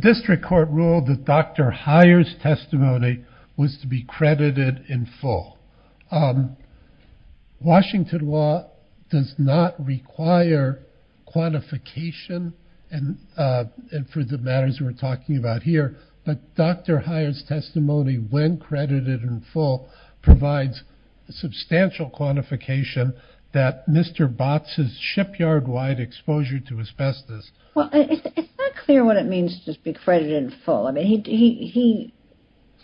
District Court ruled that Dr. Heyer's testimony was to be credited in full. Washington law does not require quantification for the matters we're talking about here, but Dr. Heyer's testimony, when credited in full, provides substantial quantification that Mr. Botts' shipyard wide exposure to asbestos. Well, it's not clear what it means to be credited in full. I mean,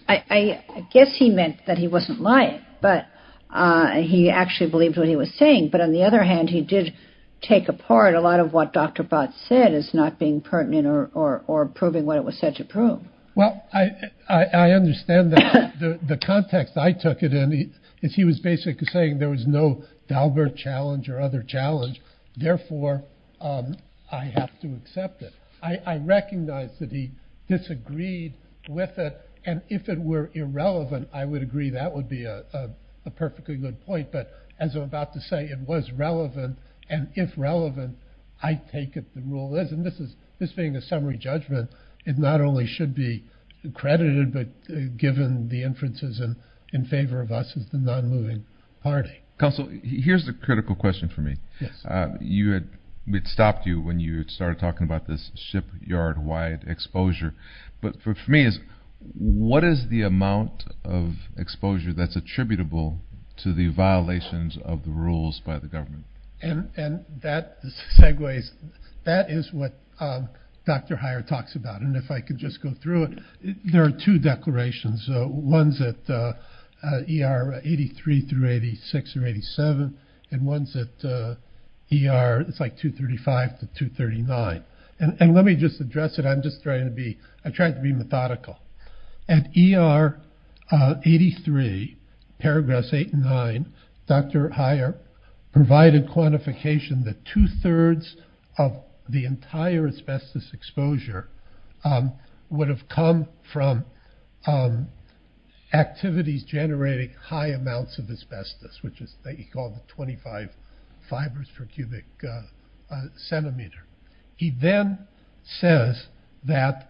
I guess he meant that he wasn't lying, but he actually believed what he was saying. But on the other hand, he did take apart a lot of what Dr. Botts said as not being pertinent or proving what it was said to prove. Well, I understand the context I took it in. He was basically saying there was no Daubert challenge or other challenge. Therefore, I have to accept it. I recognize that he disagreed with it, and if it were irrelevant, I would agree that would be a perfectly good point. But as I'm about to say, it was relevant, and if relevant, I take it the rule is. And this being a summary judgment, it not only should be credited, but given the inferences in favor of us as the non-moving party. Counsel, here's the critical question for me. It stopped you when you started talking about this shipyard wide exposure. But for me, what is the amount of exposure that's attributable to the violations of the rules by the government? And that segues, that is what Dr. Heyer talks about. And if I could just go through it, there are two declarations. One's at ER 83 through 86 or 87, and one's at ER, it's like 235 to 239. And let me just address it, I'm just trying to be, I tried to be methodical. At ER 83, paragraphs eight and nine, Dr. Heyer provided quantification that two thirds of the entire asbestos exposure would have come from activities generating high amounts of asbestos, which is called 25 fibers per cubic centimeter. He then says that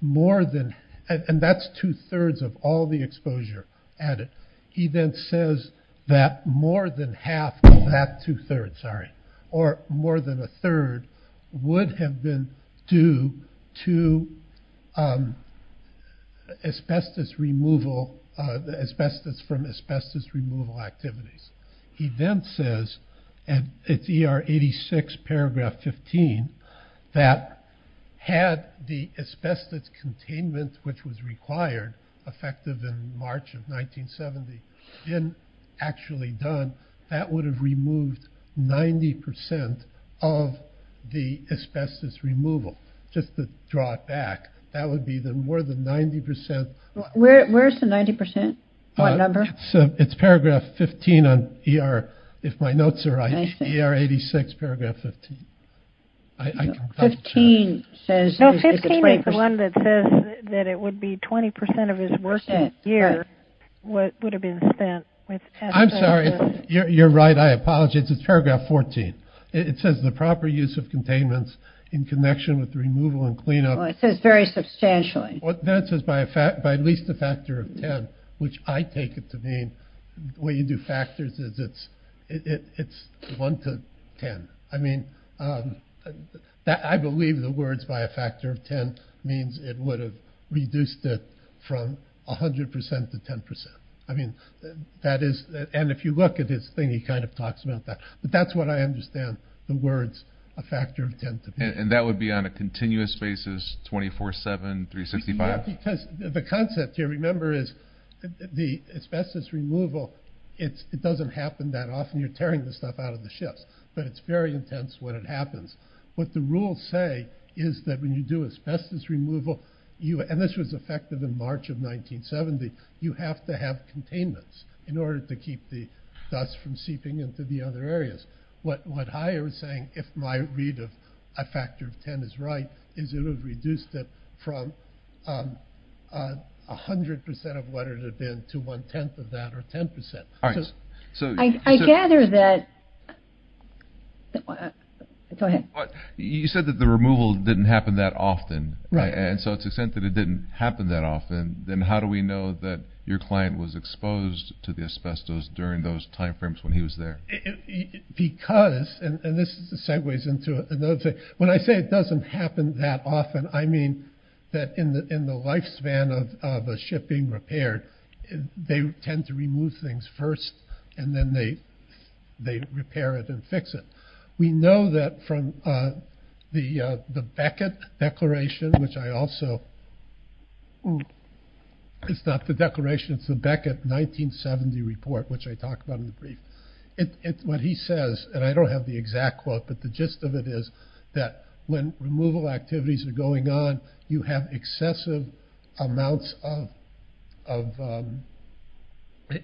more than, and that's two thirds of all the exposure added. He then says that more than half of that two thirds, sorry, or more than a third would have been due to asbestos removal, asbestos from asbestos removal activities. He then says, and it's ER 86, paragraph 15, that had the asbestos containment, which was required, effective in March of 1970, been actually done, that would have removed 90% of the asbestos removal. Just to draw it back, that would be the more than 90%. Where's the 90%? What number? It's paragraph 15 on ER, if my notes are right, ER 86, paragraph 15. No, 15 is the one that says that it would be 20% of his work that year would have been spent with asbestos. I'm sorry, you're right, I apologize, it's paragraph 14. It says the proper use of containments in connection with the removal and cleanup. It says very substantially. That says by at least a factor of 10, which I take it to mean, the way you do factors is it's one to 10. I mean, I believe the words by a factor of 10 means it would have reduced it from 100% to 10%. I mean, that is, and if you look at his thing, he kind of talks about that, but that's what I understand the words a factor of 10 to be. And that would be on a continuous basis, 24-7, 365? Because the concept here, remember, is the asbestos removal, it doesn't happen that often. You're tearing the stuff out of the shifts, but it's very intense when it happens. What the rules say is that when you do asbestos removal, and this was effective in March of 1970, you have to have containments in order to keep the dust from seeping into the other areas. What I was saying, if my read of a factor of 10 is right, is it would have reduced it from 100% of what it had been to one-tenth of that, or 10%. I gather that, go ahead. You said that the removal didn't happen that often. Right. And so to the extent that it didn't happen that often, then how do we know that your client was exposed to the asbestos during those time frames when he was there? Because, and this segues into another thing, when I say it doesn't happen that often, I mean that in the lifespan of a ship being repaired, they tend to remove things first, and then they repair it and fix it. We know that from the Beckett declaration, which I also, it's not the declaration, it's the Beckett 1970 report, which I talked about in the brief. What he says, and I don't have the exact quote, but the gist of it is that when removal activities are going on, you have excessive amounts of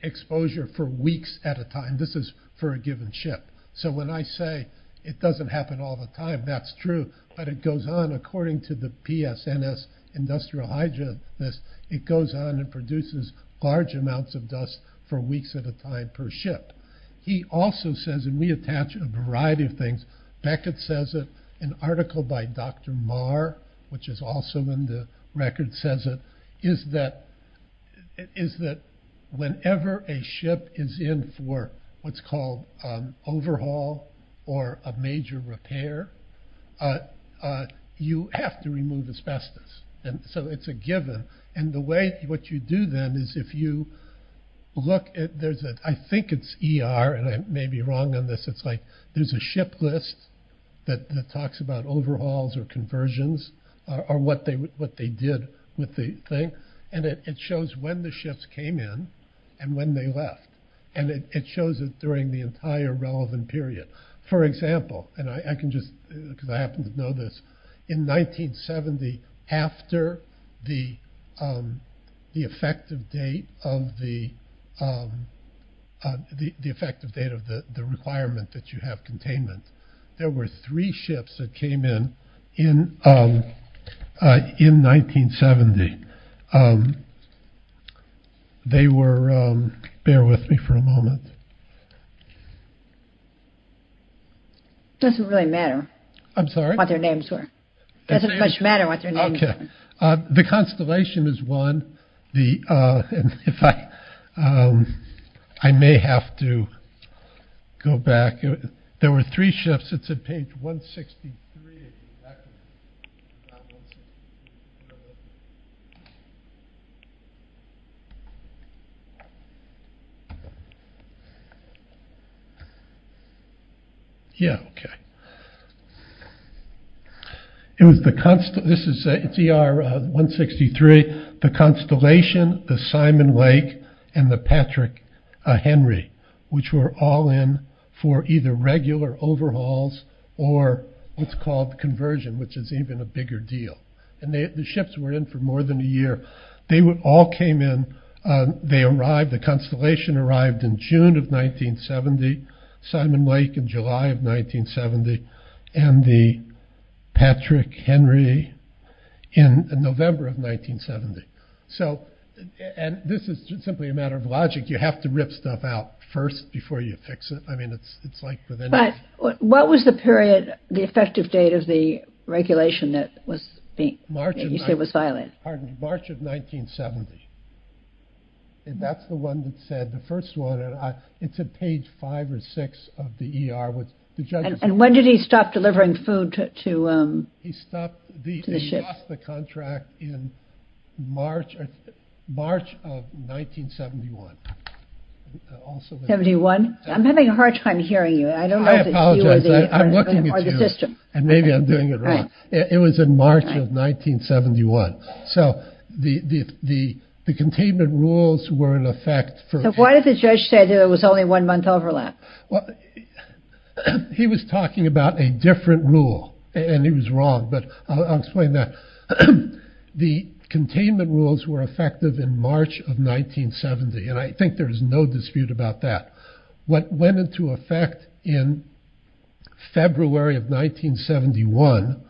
exposure for weeks at a time. This is for a given ship. So when I say it doesn't happen all the time, that's true. But it goes on, according to the PSNS Industrial Hydra list, it goes on and produces large amounts of dust for weeks at a time per ship. He also says, and we attach a variety of things, Beckett says it, an article by Dr. Marr, which is also in the record, says it, is that whenever a ship is in for what's called overhaul or a major repair, you have to remove asbestos. And so it's a given. And the way, what you do then is if you look at, there's a, I think it's ER, and I may be wrong on this, it's like there's a ship list that talks about overhauls or conversions, or what they did with the thing. And it shows when the ships came in and when they left. And it shows it during the entire relevant period. For example, and I can just, because I happen to know this, in 1970, after the effective date of the requirement that you have containment, there were three ships that came in, in 1970. They were, bear with me for a moment. It doesn't really matter. I'm sorry? What their names were. It doesn't much matter what their names were. The Constellation is one. I may have to go back. There were three ships. It's at page 163. Yeah, okay. It was the Constellation, it's ER 163, the Constellation, the Simon Lake, and the Patrick Henry, which were all in for either regular overhauls or what's called conversion, which is even a bigger deal. And the ships were in for more than a year. They all came in. They arrived, the Constellation arrived in June of 1970, Simon Lake in July of 1970, and the Patrick Henry in November of 1970. So, and this is simply a matter of logic. You have to rip stuff out first before you fix it. I mean, it's like with anything. What was the period, the effective date of the regulation that was being, that you said was violated? March of 1970. And that's the one that said, the first one, it's at page five or six of the ER. And when did he stop delivering food to the ship? He stopped, he lost the contract in March of 1971. 71? I'm having a hard time hearing you. I don't know if it's you or the system. I apologize, I'm looking at you, and maybe I'm doing it wrong. It was in March of 1971. So, the containment rules were in effect. So why did the judge say there was only one month overlap? Well, he was talking about a different rule, and he was wrong, but I'll explain that. The containment rules were effective in March of 1970, and I think there is no dispute about that. What went into effect in February of 1971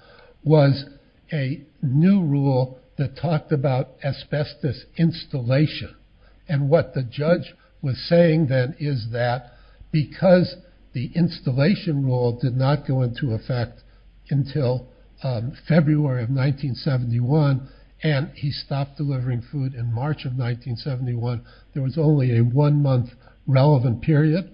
was a new rule that talked about asbestos installation. And what the judge was saying then is that because the installation rule did not go into effect until February of 1971, and he stopped delivering food in March of 1971, there was only a one-month relevant period.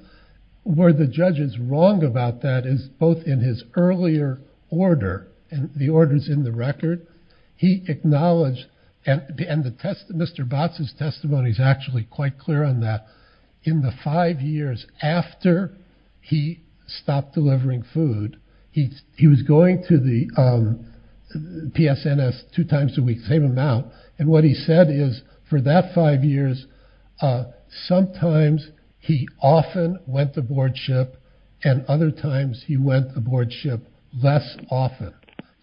Where the judge is wrong about that is both in his earlier order, and the order's in the record, he acknowledged, and Mr. Botts' testimony is actually quite clear on that, in the five years after he stopped delivering food, he was going to the PSNS two times a week, same amount, and what he said is, for that five years, sometimes he often went to boardship, and other times he went to boardship less often.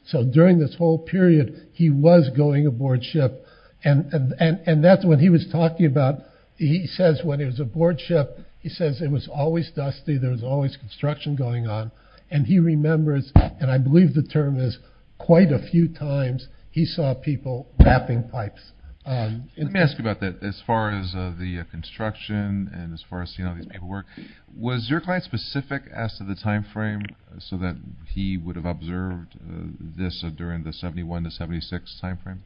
So during this whole period, he was going to boardship, and that's what he was talking about. He says when it was a boardship, he says it was always dusty, there was always construction going on, and he remembers, and I believe the term is, quite a few times he saw people mapping pipes. Let me ask you about that. As far as the construction, and as far as seeing all these people work, was your client specific as to the time frame so that he would have observed this during the 71 to 76 time frame?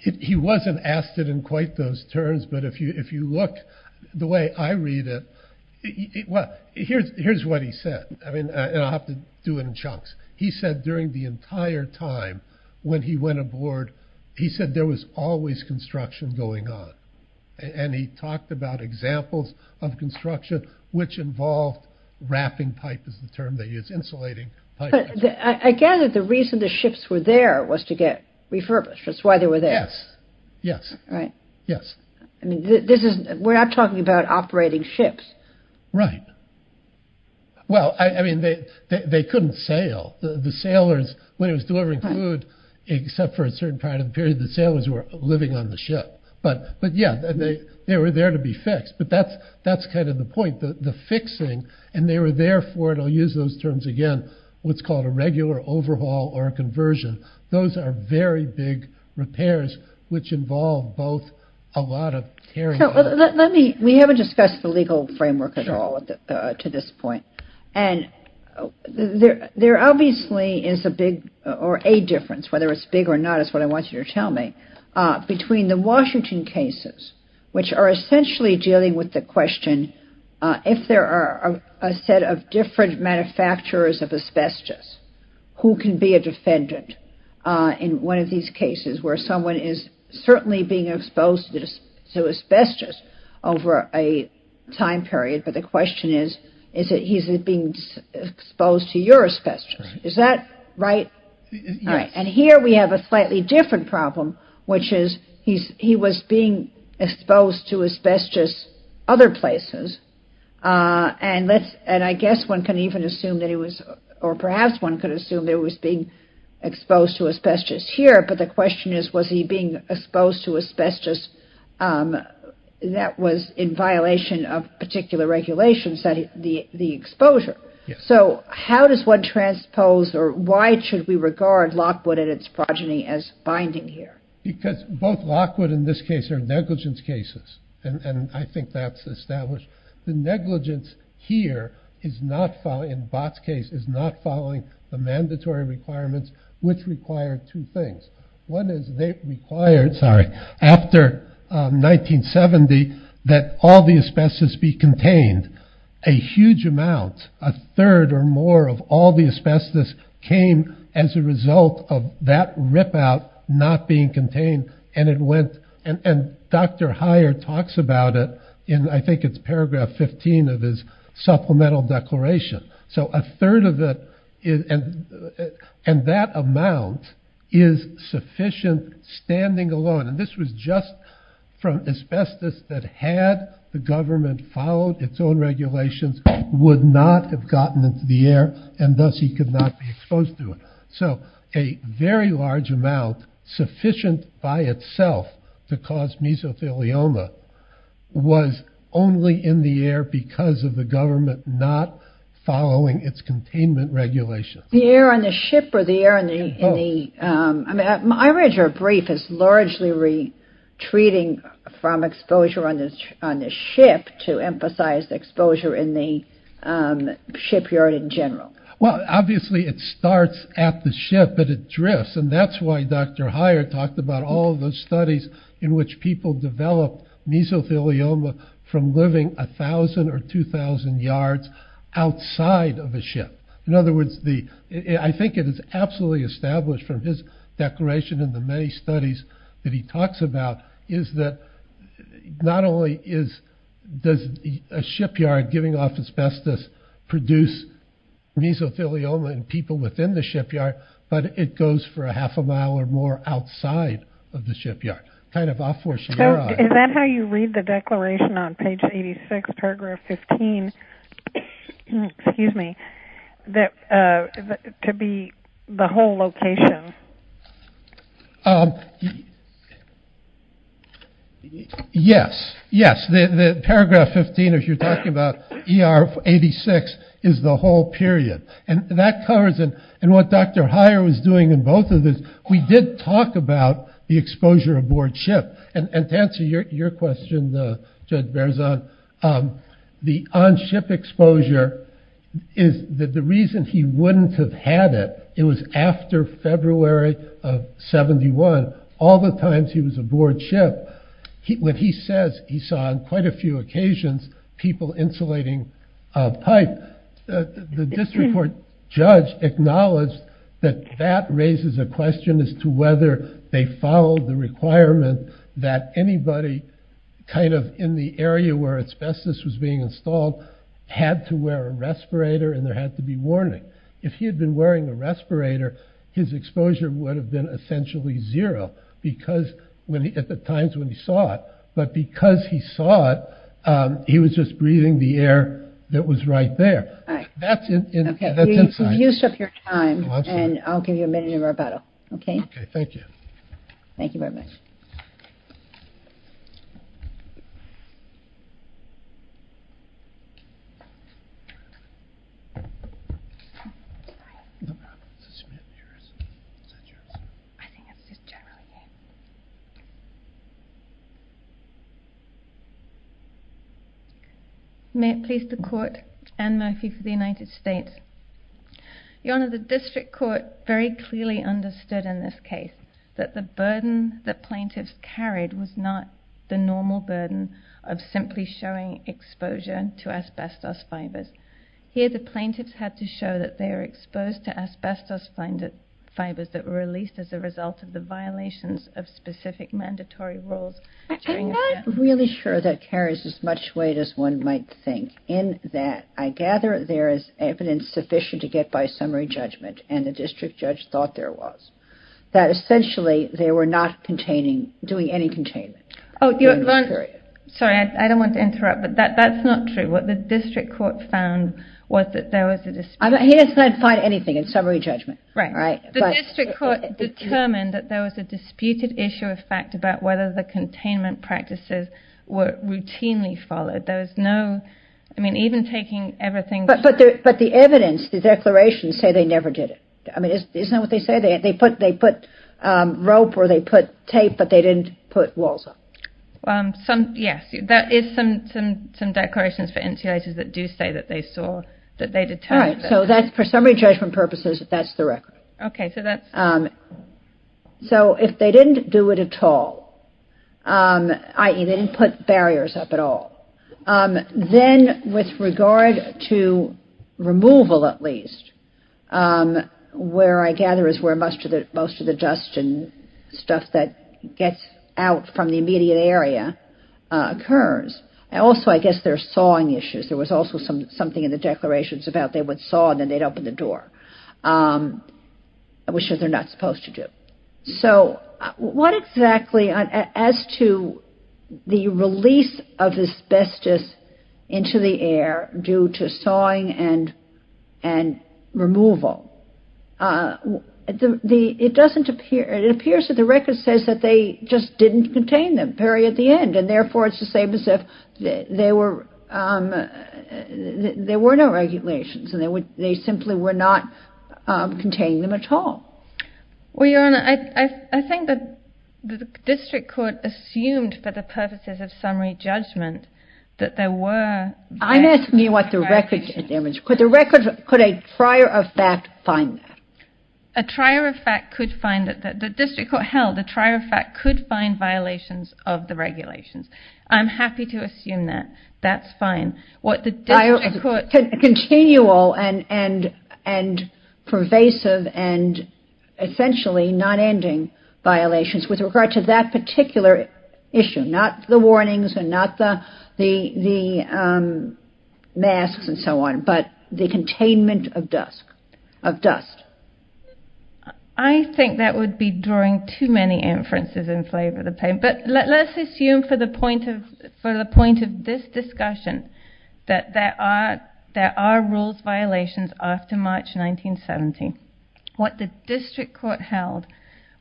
He wasn't asked it in quite those terms, but if you look the way I read it, well, here's what he said, and I'll have to do it in chunks. He said during the entire time when he went aboard, he said there was always construction going on, and he talked about examples of construction which involved wrapping pipe is the term they use, insulating pipe. I gather the reason the ships were there was to get refurbished, that's why they were there. Yes. Right. Yes. We're not talking about operating ships. Right. Well, I mean, they couldn't sail. The sailors, when it was delivering food, except for a certain part of the period, the sailors were living on the ship. But yeah, they were there to be fixed, but that's kind of the point, the fixing, and they were there for, and I'll use those terms again, what's called a regular overhaul or a conversion. Those are very big repairs which involve both a lot of tearing up. Let me, we haven't discussed the legal framework at all to this point, and there obviously is a big, or a difference, whether it's big or not is what I want you to tell me, between the Washington cases which are essentially dealing with the question, if there are a set of different manufacturers of asbestos, who can be a defendant in one of these cases where someone is certainly being exposed to asbestos over a time period, but the question is, is it being exposed to your asbestos? Is that right? Yes. And here we have a slightly different problem, which is he was being exposed to asbestos other places, and I guess one can even assume that he was, or perhaps one could assume that he was being exposed to asbestos here, but the question is, was he being exposed to asbestos that was in violation of particular regulations, the exposure? Yes. So how does one transpose, or why should we regard Lockwood and its progeny as binding here? Because both Lockwood in this case are negligence cases, and I think that's established. The negligence here is not, in Bott's case, is not following the mandatory requirements which require two things. One is they required, sorry, after 1970 that all the asbestos be contained. A huge amount, a third or more of all the asbestos came as a result of that ripout not being contained, and it went, and Dr. Heyer talks about it in, I think it's paragraph 15 of his supplemental declaration. So a third of it, and that amount is sufficient standing alone, and this was just from asbestos that had the government followed its own regulations, would not have gotten into the air, and thus he could not be exposed to it. So a very large amount sufficient by itself to cause mesothelioma was only in the air because of the government not following its containment regulations. The air on the ship, or the air in the, I read your brief, is largely retreating from exposure on the ship to emphasize exposure in the shipyard in general. Well, obviously it starts at the ship, but it drifts, and that's why Dr. Heyer talked about all those studies in which people develop mesothelioma from living 1,000 or 2,000 yards outside of a ship. In other words, I think it is absolutely established from his declaration and the many studies that he talks about is that not only does a shipyard giving off asbestos produce mesothelioma in people within the shipyard, but it goes for a half a mile or more outside of the shipyard. Is that how you read the declaration on page 86, paragraph 15, to be the whole location? Yes, yes. The paragraph 15, if you're talking about ER 86, is the whole period. And that covers, and what Dr. Heyer was doing in both of this, we did talk about the exposure aboard ship. And to answer your question, Judge Berzon, the on-ship exposure is that the reason he wouldn't have had it, it was after February of 71, all the times he was aboard ship. When he says he saw on quite a few occasions people insulating a pipe, the district court judge acknowledged that that raises a question as to whether they followed the requirement that anybody kind of in the area where asbestos was being installed had to wear a respirator and there had to be warning. If he had been wearing a respirator, his exposure would have been essentially zero at the times when he saw it. But because he saw it, he was just breathing the air that was right there. That's inside. You've used up your time, and I'll give you a minute of rebuttal. Okay, thank you. Thank you very much. No problem. I think it's just generally. May it please the Court, Anne Murphy for the United States. Your Honor, the district court very clearly understood in this case that the burden that plaintiffs carried was not the normal burden of simply showing exposure to asbestos fibers. Here the plaintiffs had to show that they were exposed to asbestos fibers that were released as a result of the violations of specific mandatory rules. I'm not really sure that carries as much weight as one might think, in that I gather there is evidence sufficient to get by summary judgment, and the district judge thought there was, that essentially they were not doing any containment during this period. Sorry, I don't want to interrupt, but that's not true. What the district court found was that there was a dispute. He does not find anything in summary judgment. Right. The district court determined that there was a disputed issue of fact about whether the containment practices were routinely followed. There was no, I mean, even taking everything. But the evidence, the declarations say they never did it. I mean, isn't that what they say? They put rope or they put tape, but they didn't put walls up. Yes, there is some declarations for insulators that do say that they saw, that they determined that. All right, so for summary judgment purposes, that's the record. Okay, so that's. So if they didn't do it at all, i.e. they didn't put barriers up at all, then with regard to removal at least, where I gather is where most of the dust and stuff that gets out from the immediate area occurs. Also, I guess there's sawing issues. There was also something in the declarations about they would saw and then they'd open the door, which they're not supposed to do. So what exactly as to the release of asbestos into the air due to sawing and removal, it doesn't appear, it appears that the record says that they just didn't contain them very at the end. And therefore, it's the same as if there were no regulations and they simply were not containing them at all. Well, Your Honor, I think that the district court assumed for the purposes of summary judgment that there were. I'm asking you what the record there is. Could the record, could a trier of fact find that? A trier of fact could find that. The district court held the trier of fact could find violations of the regulations. I'm happy to assume that. That's fine. What the district court. Continual and pervasive and essentially non-ending violations with regard to that particular issue. Not the warnings and not the masks and so on, but the containment of dust. I think that would be drawing too many inferences in favor of the plaintiff. But let's assume for the point of this discussion that there are rules violations after March 1970. What the district court held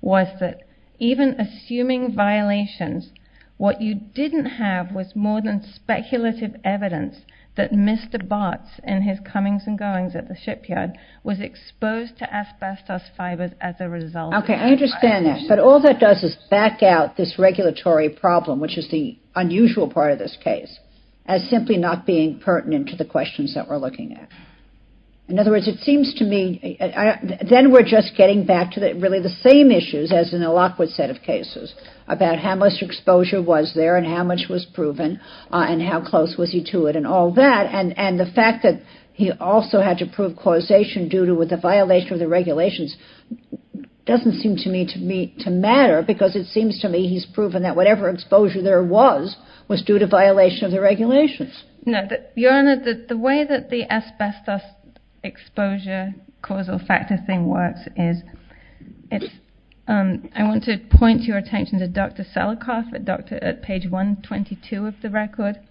was that even assuming violations, what you didn't have was more than speculative evidence that Mr. Bartz and his comings and goings at the shipyard was exposed to asbestos fibers as a result. Okay, I understand that. But all that does is back out this regulatory problem, which is the unusual part of this case, as simply not being pertinent to the questions that we're looking at. In other words, it seems to me, then we're just getting back to really the same issues as in the Lockwood set of cases about how much exposure was there and how much was proven and how close was he to it and all that. And the fact that he also had to prove causation due to the violation of the regulations doesn't seem to me to matter because it seems to me he's proven that whatever exposure there was was due to violation of the regulations. Your Honor, the way that the asbestos exposure causal factor thing works is I want to point your attention to Dr. Selikoff at page 122 of the record.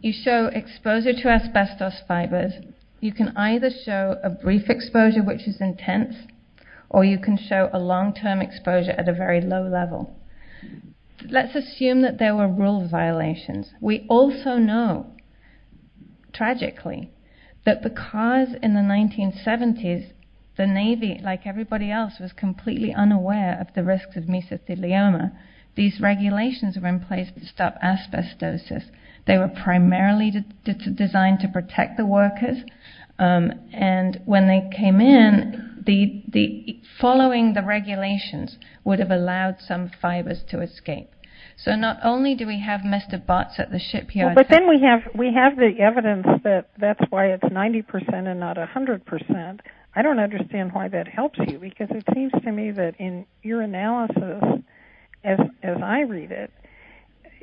You show exposure to asbestos fibers. You can either show a brief exposure, which is intense, or you can show a long-term exposure at a very low level. Let's assume that there were rule violations. We also know, tragically, that because in the 1970s the Navy, like everybody else, was completely unaware of the risks of mesothelioma, these regulations were in place to stop asbestosis. They were primarily designed to protect the workers, and when they came in, following the regulations would have allowed some fibers to escape. So not only do we have messed up bots at the ship, Your Honor. But then we have the evidence that that's why it's 90% and not 100%. I don't understand why that helps you because it seems to me that in your analysis, as I read it,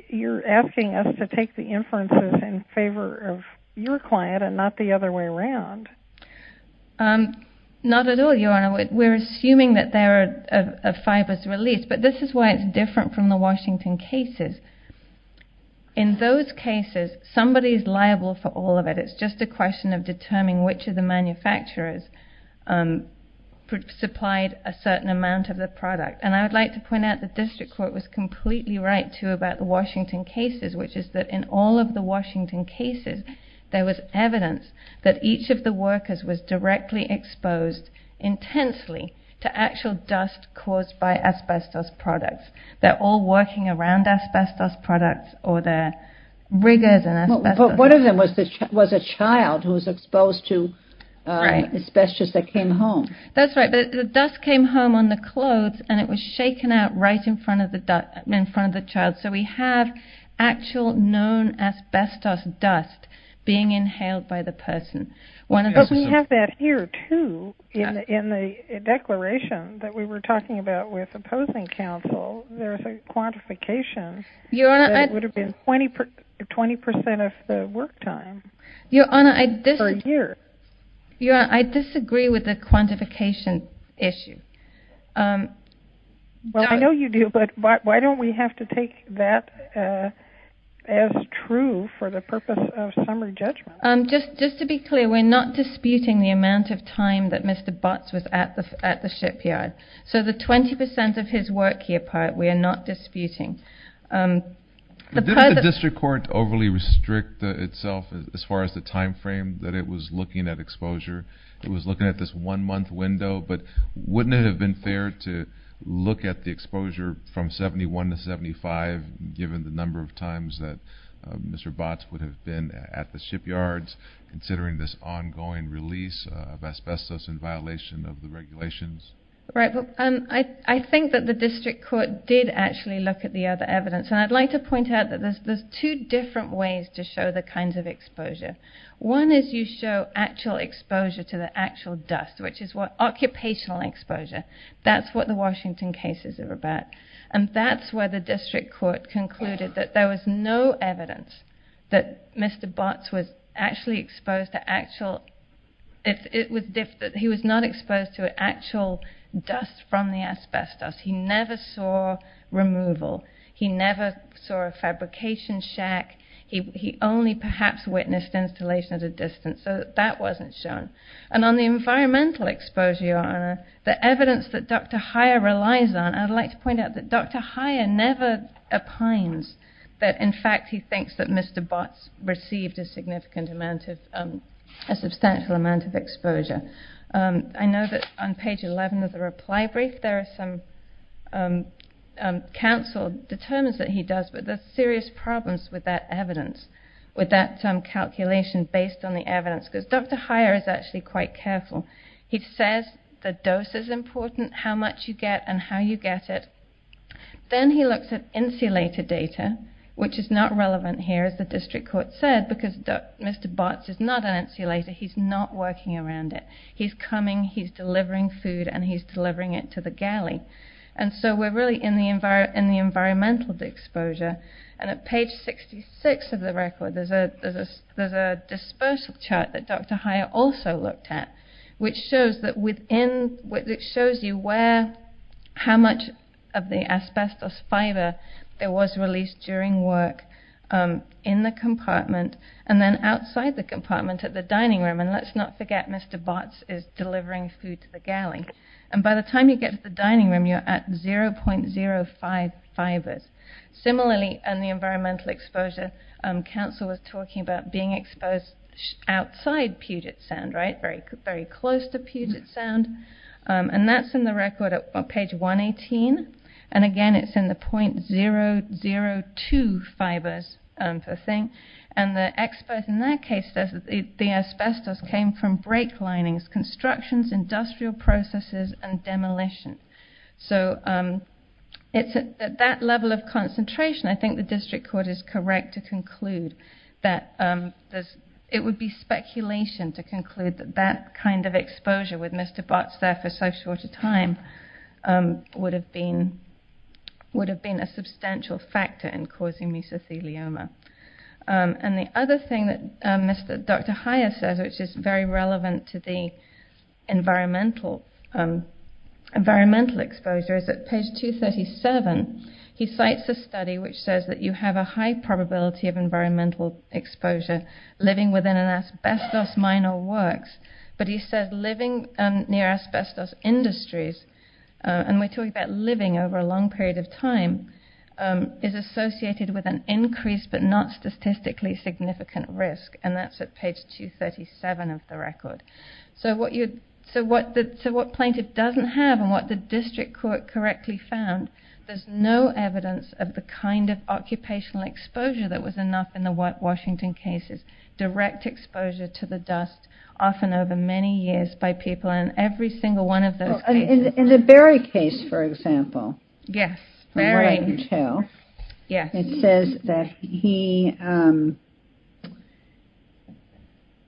you're asking us to take the inferences in favor of your client and not the other way around. Not at all, Your Honor. We're assuming that there are fibers released, but this is why it's different from the Washington cases. In those cases, somebody is liable for all of it. It's just a question of determining which of the manufacturers supplied a certain amount of the product. And I would like to point out the district court was completely right, too, about the Washington cases, which is that in all of the Washington cases there was evidence that each of the workers was directly exposed intensely to actual dust caused by asbestos products. They're all working around asbestos products or their rigors and asbestos. But one of them was a child who was exposed to asbestos that came home. That's right, but the dust came home on the clothes and it was shaken out right in front of the child. So we have actual known asbestos dust being inhaled by the person. But we have that here, too, in the declaration that we were talking about with opposing counsel. There's a quantification that it would have been 20% of the work time per year. Your Honor, I disagree with the quantification issue. Well, I know you do, but why don't we have to take that as true for the purpose of summary judgment? Just to be clear, we're not disputing the amount of time that Mr. Botts was at the shipyard. So the 20% of his work year part we are not disputing. Didn't the district court overly restrict itself as far as the time frame that it was looking at exposure? It was looking at this one-month window, but wouldn't it have been fair to look at the exposure from 71 to 75, given the number of times that Mr. Botts would have been at the shipyards, considering this ongoing release of asbestos in violation of the regulations? I think that the district court did actually look at the other evidence. And I'd like to point out that there's two different ways to show the kinds of exposure. One is you show actual exposure to the actual dust, which is occupational exposure. That's what the Washington cases are about. And that's where the district court concluded that there was no evidence that Mr. Botts was actually exposed to actual... He was not exposed to actual dust from the asbestos. He never saw removal. He never saw a fabrication shack. He only perhaps witnessed installation at a distance. And on the environmental exposure, Your Honor, the evidence that Dr. Heyer relies on, I'd like to point out that Dr. Heyer never opines that, in fact, he thinks that Mr. Botts received a substantial amount of exposure. I know that on page 11 of the reply brief, there is some counsel determines that he does, but there's serious problems with that evidence, with that calculation based on the evidence, because Dr. Heyer is actually quite careful. He says the dose is important, how much you get and how you get it. Then he looks at insulator data, which is not relevant here, as the district court said, because Mr. Botts is not an insulator. He's not working around it. He's coming, he's delivering food, and he's delivering it to the galley. And so we're really in the environmental exposure. And at page 66 of the record, there's a dispersal chart that Dr. Heyer also looked at, which shows you how much of the asbestos fiber that was released during work in the compartment and then outside the compartment at the dining room. And let's not forget Mr. Botts is delivering food to the galley. And by the time you get to the dining room, you're at 0.05 fibers. Similarly, in the environmental exposure, council was talking about being exposed outside Puget Sound, right? Very close to Puget Sound. And that's in the record at page 118. And again, it's in the 0.002 fibers per thing. And the expert in that case says the asbestos came from break linings, constructions, industrial processes, and demolition. So it's at that level of concentration, I think the district court is correct to conclude that it would be speculation to conclude that that kind of exposure with Mr. Botts there for so short a time would have been a substantial factor in causing mesothelioma. And the other thing that Dr. Heyer says, which is very relevant to the environmental exposure, is at page 237, he cites a study which says that you have a high probability of environmental exposure living within an asbestos mine or works. But he says living near asbestos industries, and we're talking about living over a long period of time, is associated with an increased but not statistically significant risk. And that's at page 237 of the record. So what plaintiff doesn't have, and what the district court correctly found, there's no evidence of the kind of occupational exposure that was enough in the White Washington cases. Direct exposure to the dust, often over many years, by people. And every single one of those cases... In the Berry case, for example... Yes, Berry. It says that he...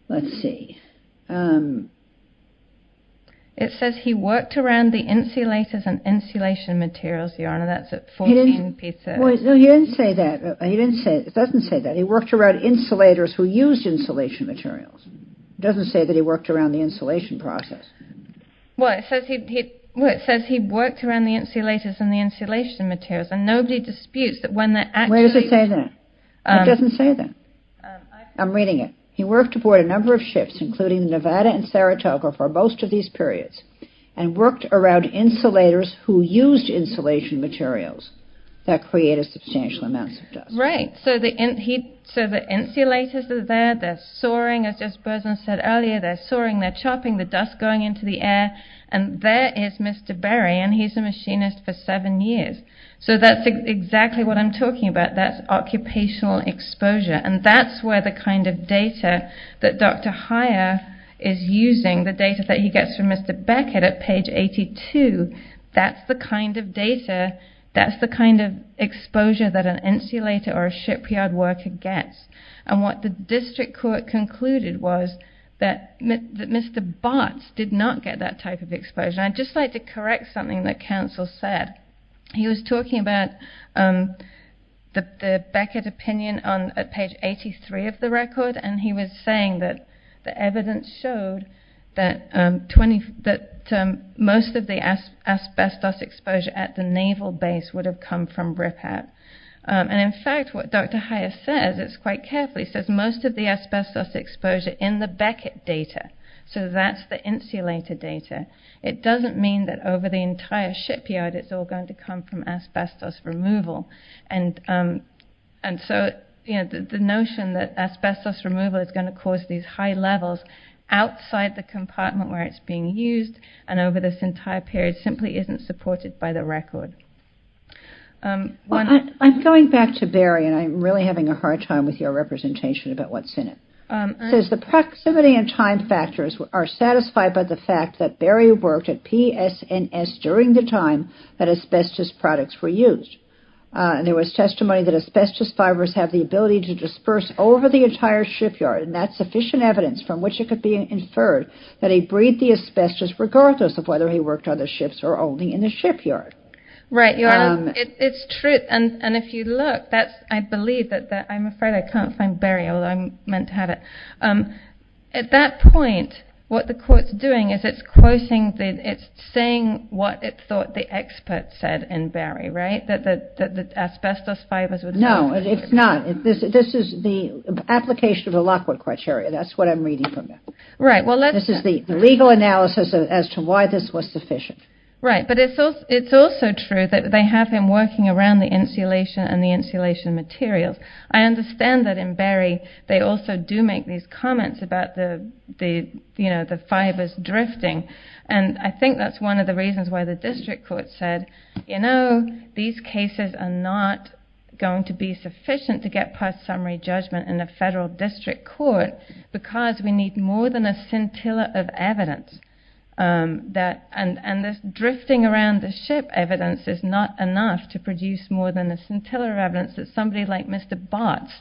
Let's see. It says he worked around the insulators and insulation materials, Your Honor. That's at 14... He didn't say that. It doesn't say that. He worked around insulators who used insulation materials. It doesn't say that he worked around the insulation process. Well, it says he worked around the insulators and the insulation materials. And nobody disputes that when they're actually... Where does it say that? It doesn't say that. I'm reading it. He worked aboard a number of ships, including the Nevada and Saratoga, for most of these periods, and worked around insulators who used insulation materials that created substantial amounts of dust. Right. So the insulators are there. They're soaring, as just Berzon said earlier. They're soaring, they're chopping the dust going into the air. And there is Mr. Berry, and he's a machinist for seven years. So that's exactly what I'm talking about. That's occupational exposure. And that's where the kind of data that Dr. Heyer is using, the data that he gets from Mr. Beckett at page 82, that's the kind of data, that's the kind of exposure that an insulator or a shipyard worker gets. And what the district court concluded was that Mr. Bartz did not get that type of exposure. And I'd just like to correct something that counsel said. He was talking about the Beckett opinion at page 83 of the record, and he was saying that the evidence showed that most of the asbestos exposure at the naval base would have come from RIPPAT. And in fact, what Dr. Heyer says, it's quite careful, he says most of the asbestos exposure in the Beckett data, so that's the insulator data, it doesn't mean that over the entire shipyard it's all going to come from asbestos removal. And so the notion that asbestos removal is going to cause these high levels outside the compartment where it's being used and over this entire period simply isn't supported by the record. I'm going back to Barry, and I'm really having a hard time with your representation about what's in it. It says the proximity and time factors are satisfied by the fact that Barry worked at PSNS during the time that asbestos products were used. There was testimony that asbestos fibers have the ability to disperse over the entire shipyard, and that's sufficient evidence from which it could be inferred that he breathed the asbestos regardless of whether he worked on the ships or only in the shipyard. Right, it's true. And if you look, I believe that... I'm afraid I can't find Barry, although I meant to have it. At that point, what the court's doing is it's quoting, it's saying what it thought the expert said in Barry, right? That the asbestos fibers were... No, it's not. This is the application of the Lockwood criteria. That's what I'm reading from it. This is the legal analysis as to why this was sufficient. Right, but it's also true that they have him working around the insulation and the insulation materials. I understand that in Barry they also do make these comments about the fibers drifting, and I think that's one of the reasons why the district court said, you know, these cases are not going to be sufficient to get past summary judgment in a federal district court because we need more than a scintilla of evidence. And this drifting around the ship evidence is not enough to produce more than a scintilla of evidence that somebody like Mr. Bartz,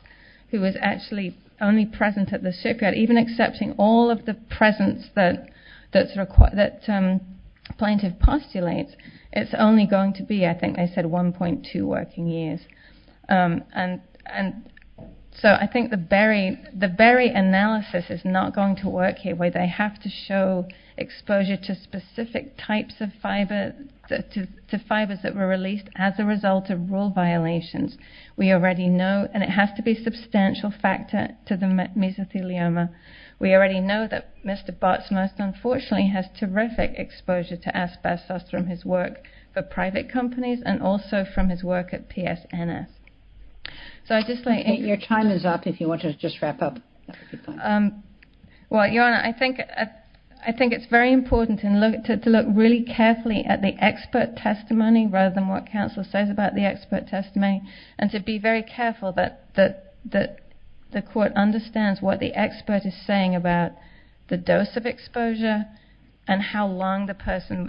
who was actually only present at the shipyard, even accepting all of the presence that plaintiff postulates, it's only going to be, I think they said, 1.2 working years. And so I think the Barry analysis is not going to work here where they have to show exposure to specific types of fiber, to fibers that were released as a result of rule violations. We already know, and it has to be a substantial factor, to the mesothelioma. We already know that Mr. Bartz most unfortunately has terrific exposure to asbestos from his work for private companies and also from his work at PSNS. Your time is up if you want to just wrap up. Well, Your Honor, I think it's very important to look really carefully at the expert testimony rather than what counsel says about the expert testimony and to be very careful that the court understands what the expert is saying about the dose of exposure and how long the person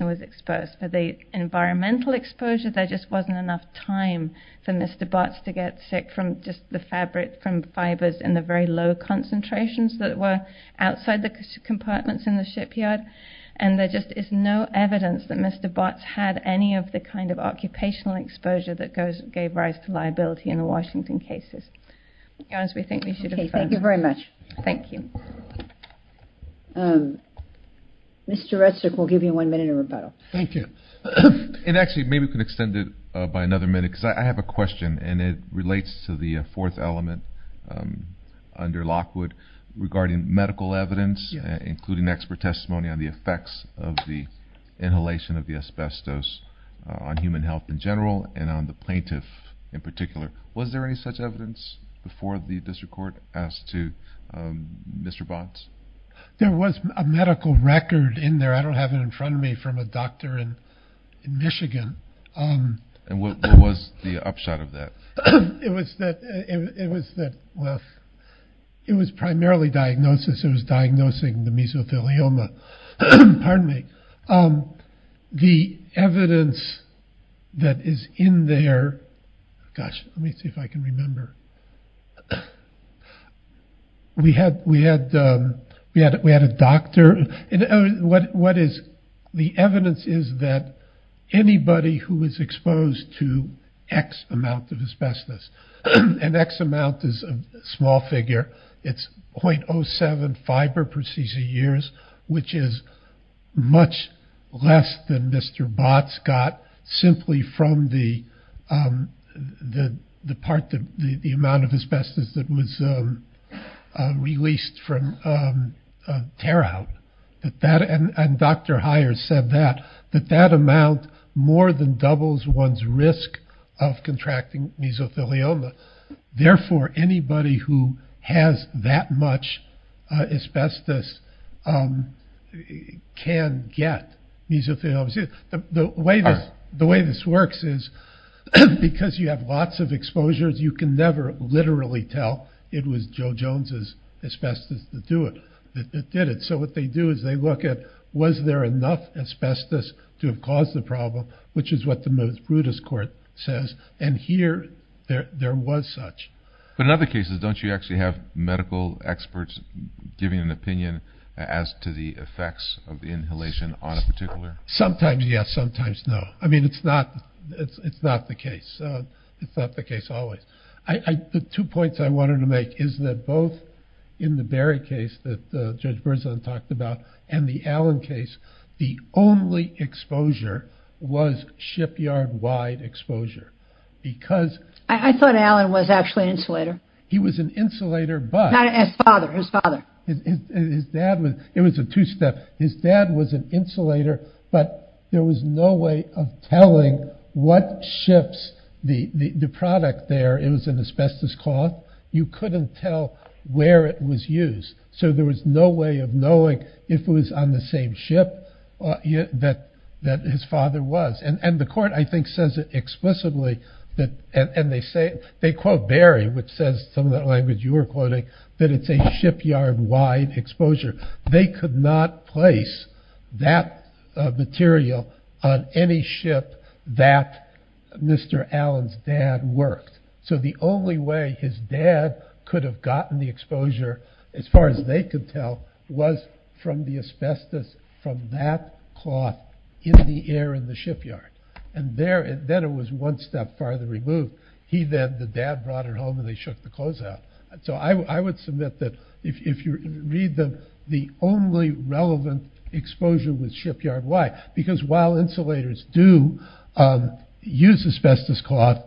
was exposed. For the environmental exposure, there just wasn't enough time for Mr. Bartz to get sick from just the fabric, from fibers in the very low concentrations that were outside the compartments in the shipyard, and there just is no evidence that Mr. Bartz had any of the kind of occupational exposure that gave rise to liability in the Washington cases. Your Honor, we think we should adjourn. Okay, thank you very much. Thank you. Mr. Redstock, we'll give you one minute of rebuttal. Thank you. And actually, maybe we can extend it by another minute because I have a question, and it relates to the fourth element under Lockwood regarding medical evidence, including expert testimony on the effects of the inhalation of the asbestos on human health in general and on the plaintiff in particular. Was there any such evidence before the district court as to Mr. Bartz? There was a medical record in there. I don't have it in front of me from a doctor in Michigan. And what was the upshot of that? It was that, well, it was primarily diagnosis. It was diagnosing the mesothelioma. Pardon me. The evidence that is in there, gosh, let me see if I can remember. We had a doctor. What is the evidence is that anybody who was exposed to X amount of asbestos. And X amount is a small figure. It's .07 fiber per CC years, which is much less than Mr. Bartz got simply from the part, the amount of asbestos that was released from a tear-out. And Dr. Heyer said that, that that amount more than doubles one's risk of contracting mesothelioma. Therefore, anybody who has that much asbestos can get mesothelioma. The way this works is because you have lots of exposures, you can never literally tell it was Joe Jones' asbestos that did it. So what they do is they look at, was there enough asbestos to have caused the problem, which is what the most rudest court says. And here there was such. But in other cases, don't you actually have medical experts giving an opinion as to the effects of the inhalation on a particular? Sometimes, yes. Sometimes, no. I mean, it's not the case. It's not the case always. The two points I wanted to make is that both in the Berry case that Judge Berzon talked about and the Allen case, the only exposure was shipyard-wide exposure. Because... I thought Allen was actually an insulator. He was an insulator, but... Not his father, his father. His dad was, it was a two-step. His dad was an insulator, but there was no way of telling what shifts the product there. It was an asbestos cloth. You couldn't tell where it was used. So there was no way of knowing if it was on the same ship that his father was. And the court, I think, says it explicitly. And they say, they quote Berry, which says some of that language you were quoting, that it's a shipyard-wide exposure. They could not place that material on any ship that Mr. Allen's dad worked. So the only way his dad could have gotten the exposure as far as they could tell, was from the asbestos from that cloth in the air in the shipyard. And there, then it was one step farther removed. He then, the dad brought it home and they shook the clothes out. So I would submit that if you read the, the only relevant exposure was shipyard-wide. Because while insulators do use asbestos cloth,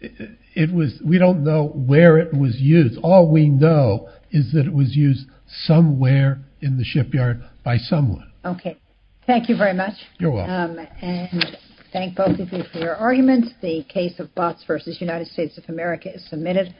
it was, we don't know where it was used. All we know is that it was used somewhere in the shipyard by someone. Okay. Thank you very much. You're welcome. And thank both of you for your arguments. The case of Botts v. United States of America is submitted.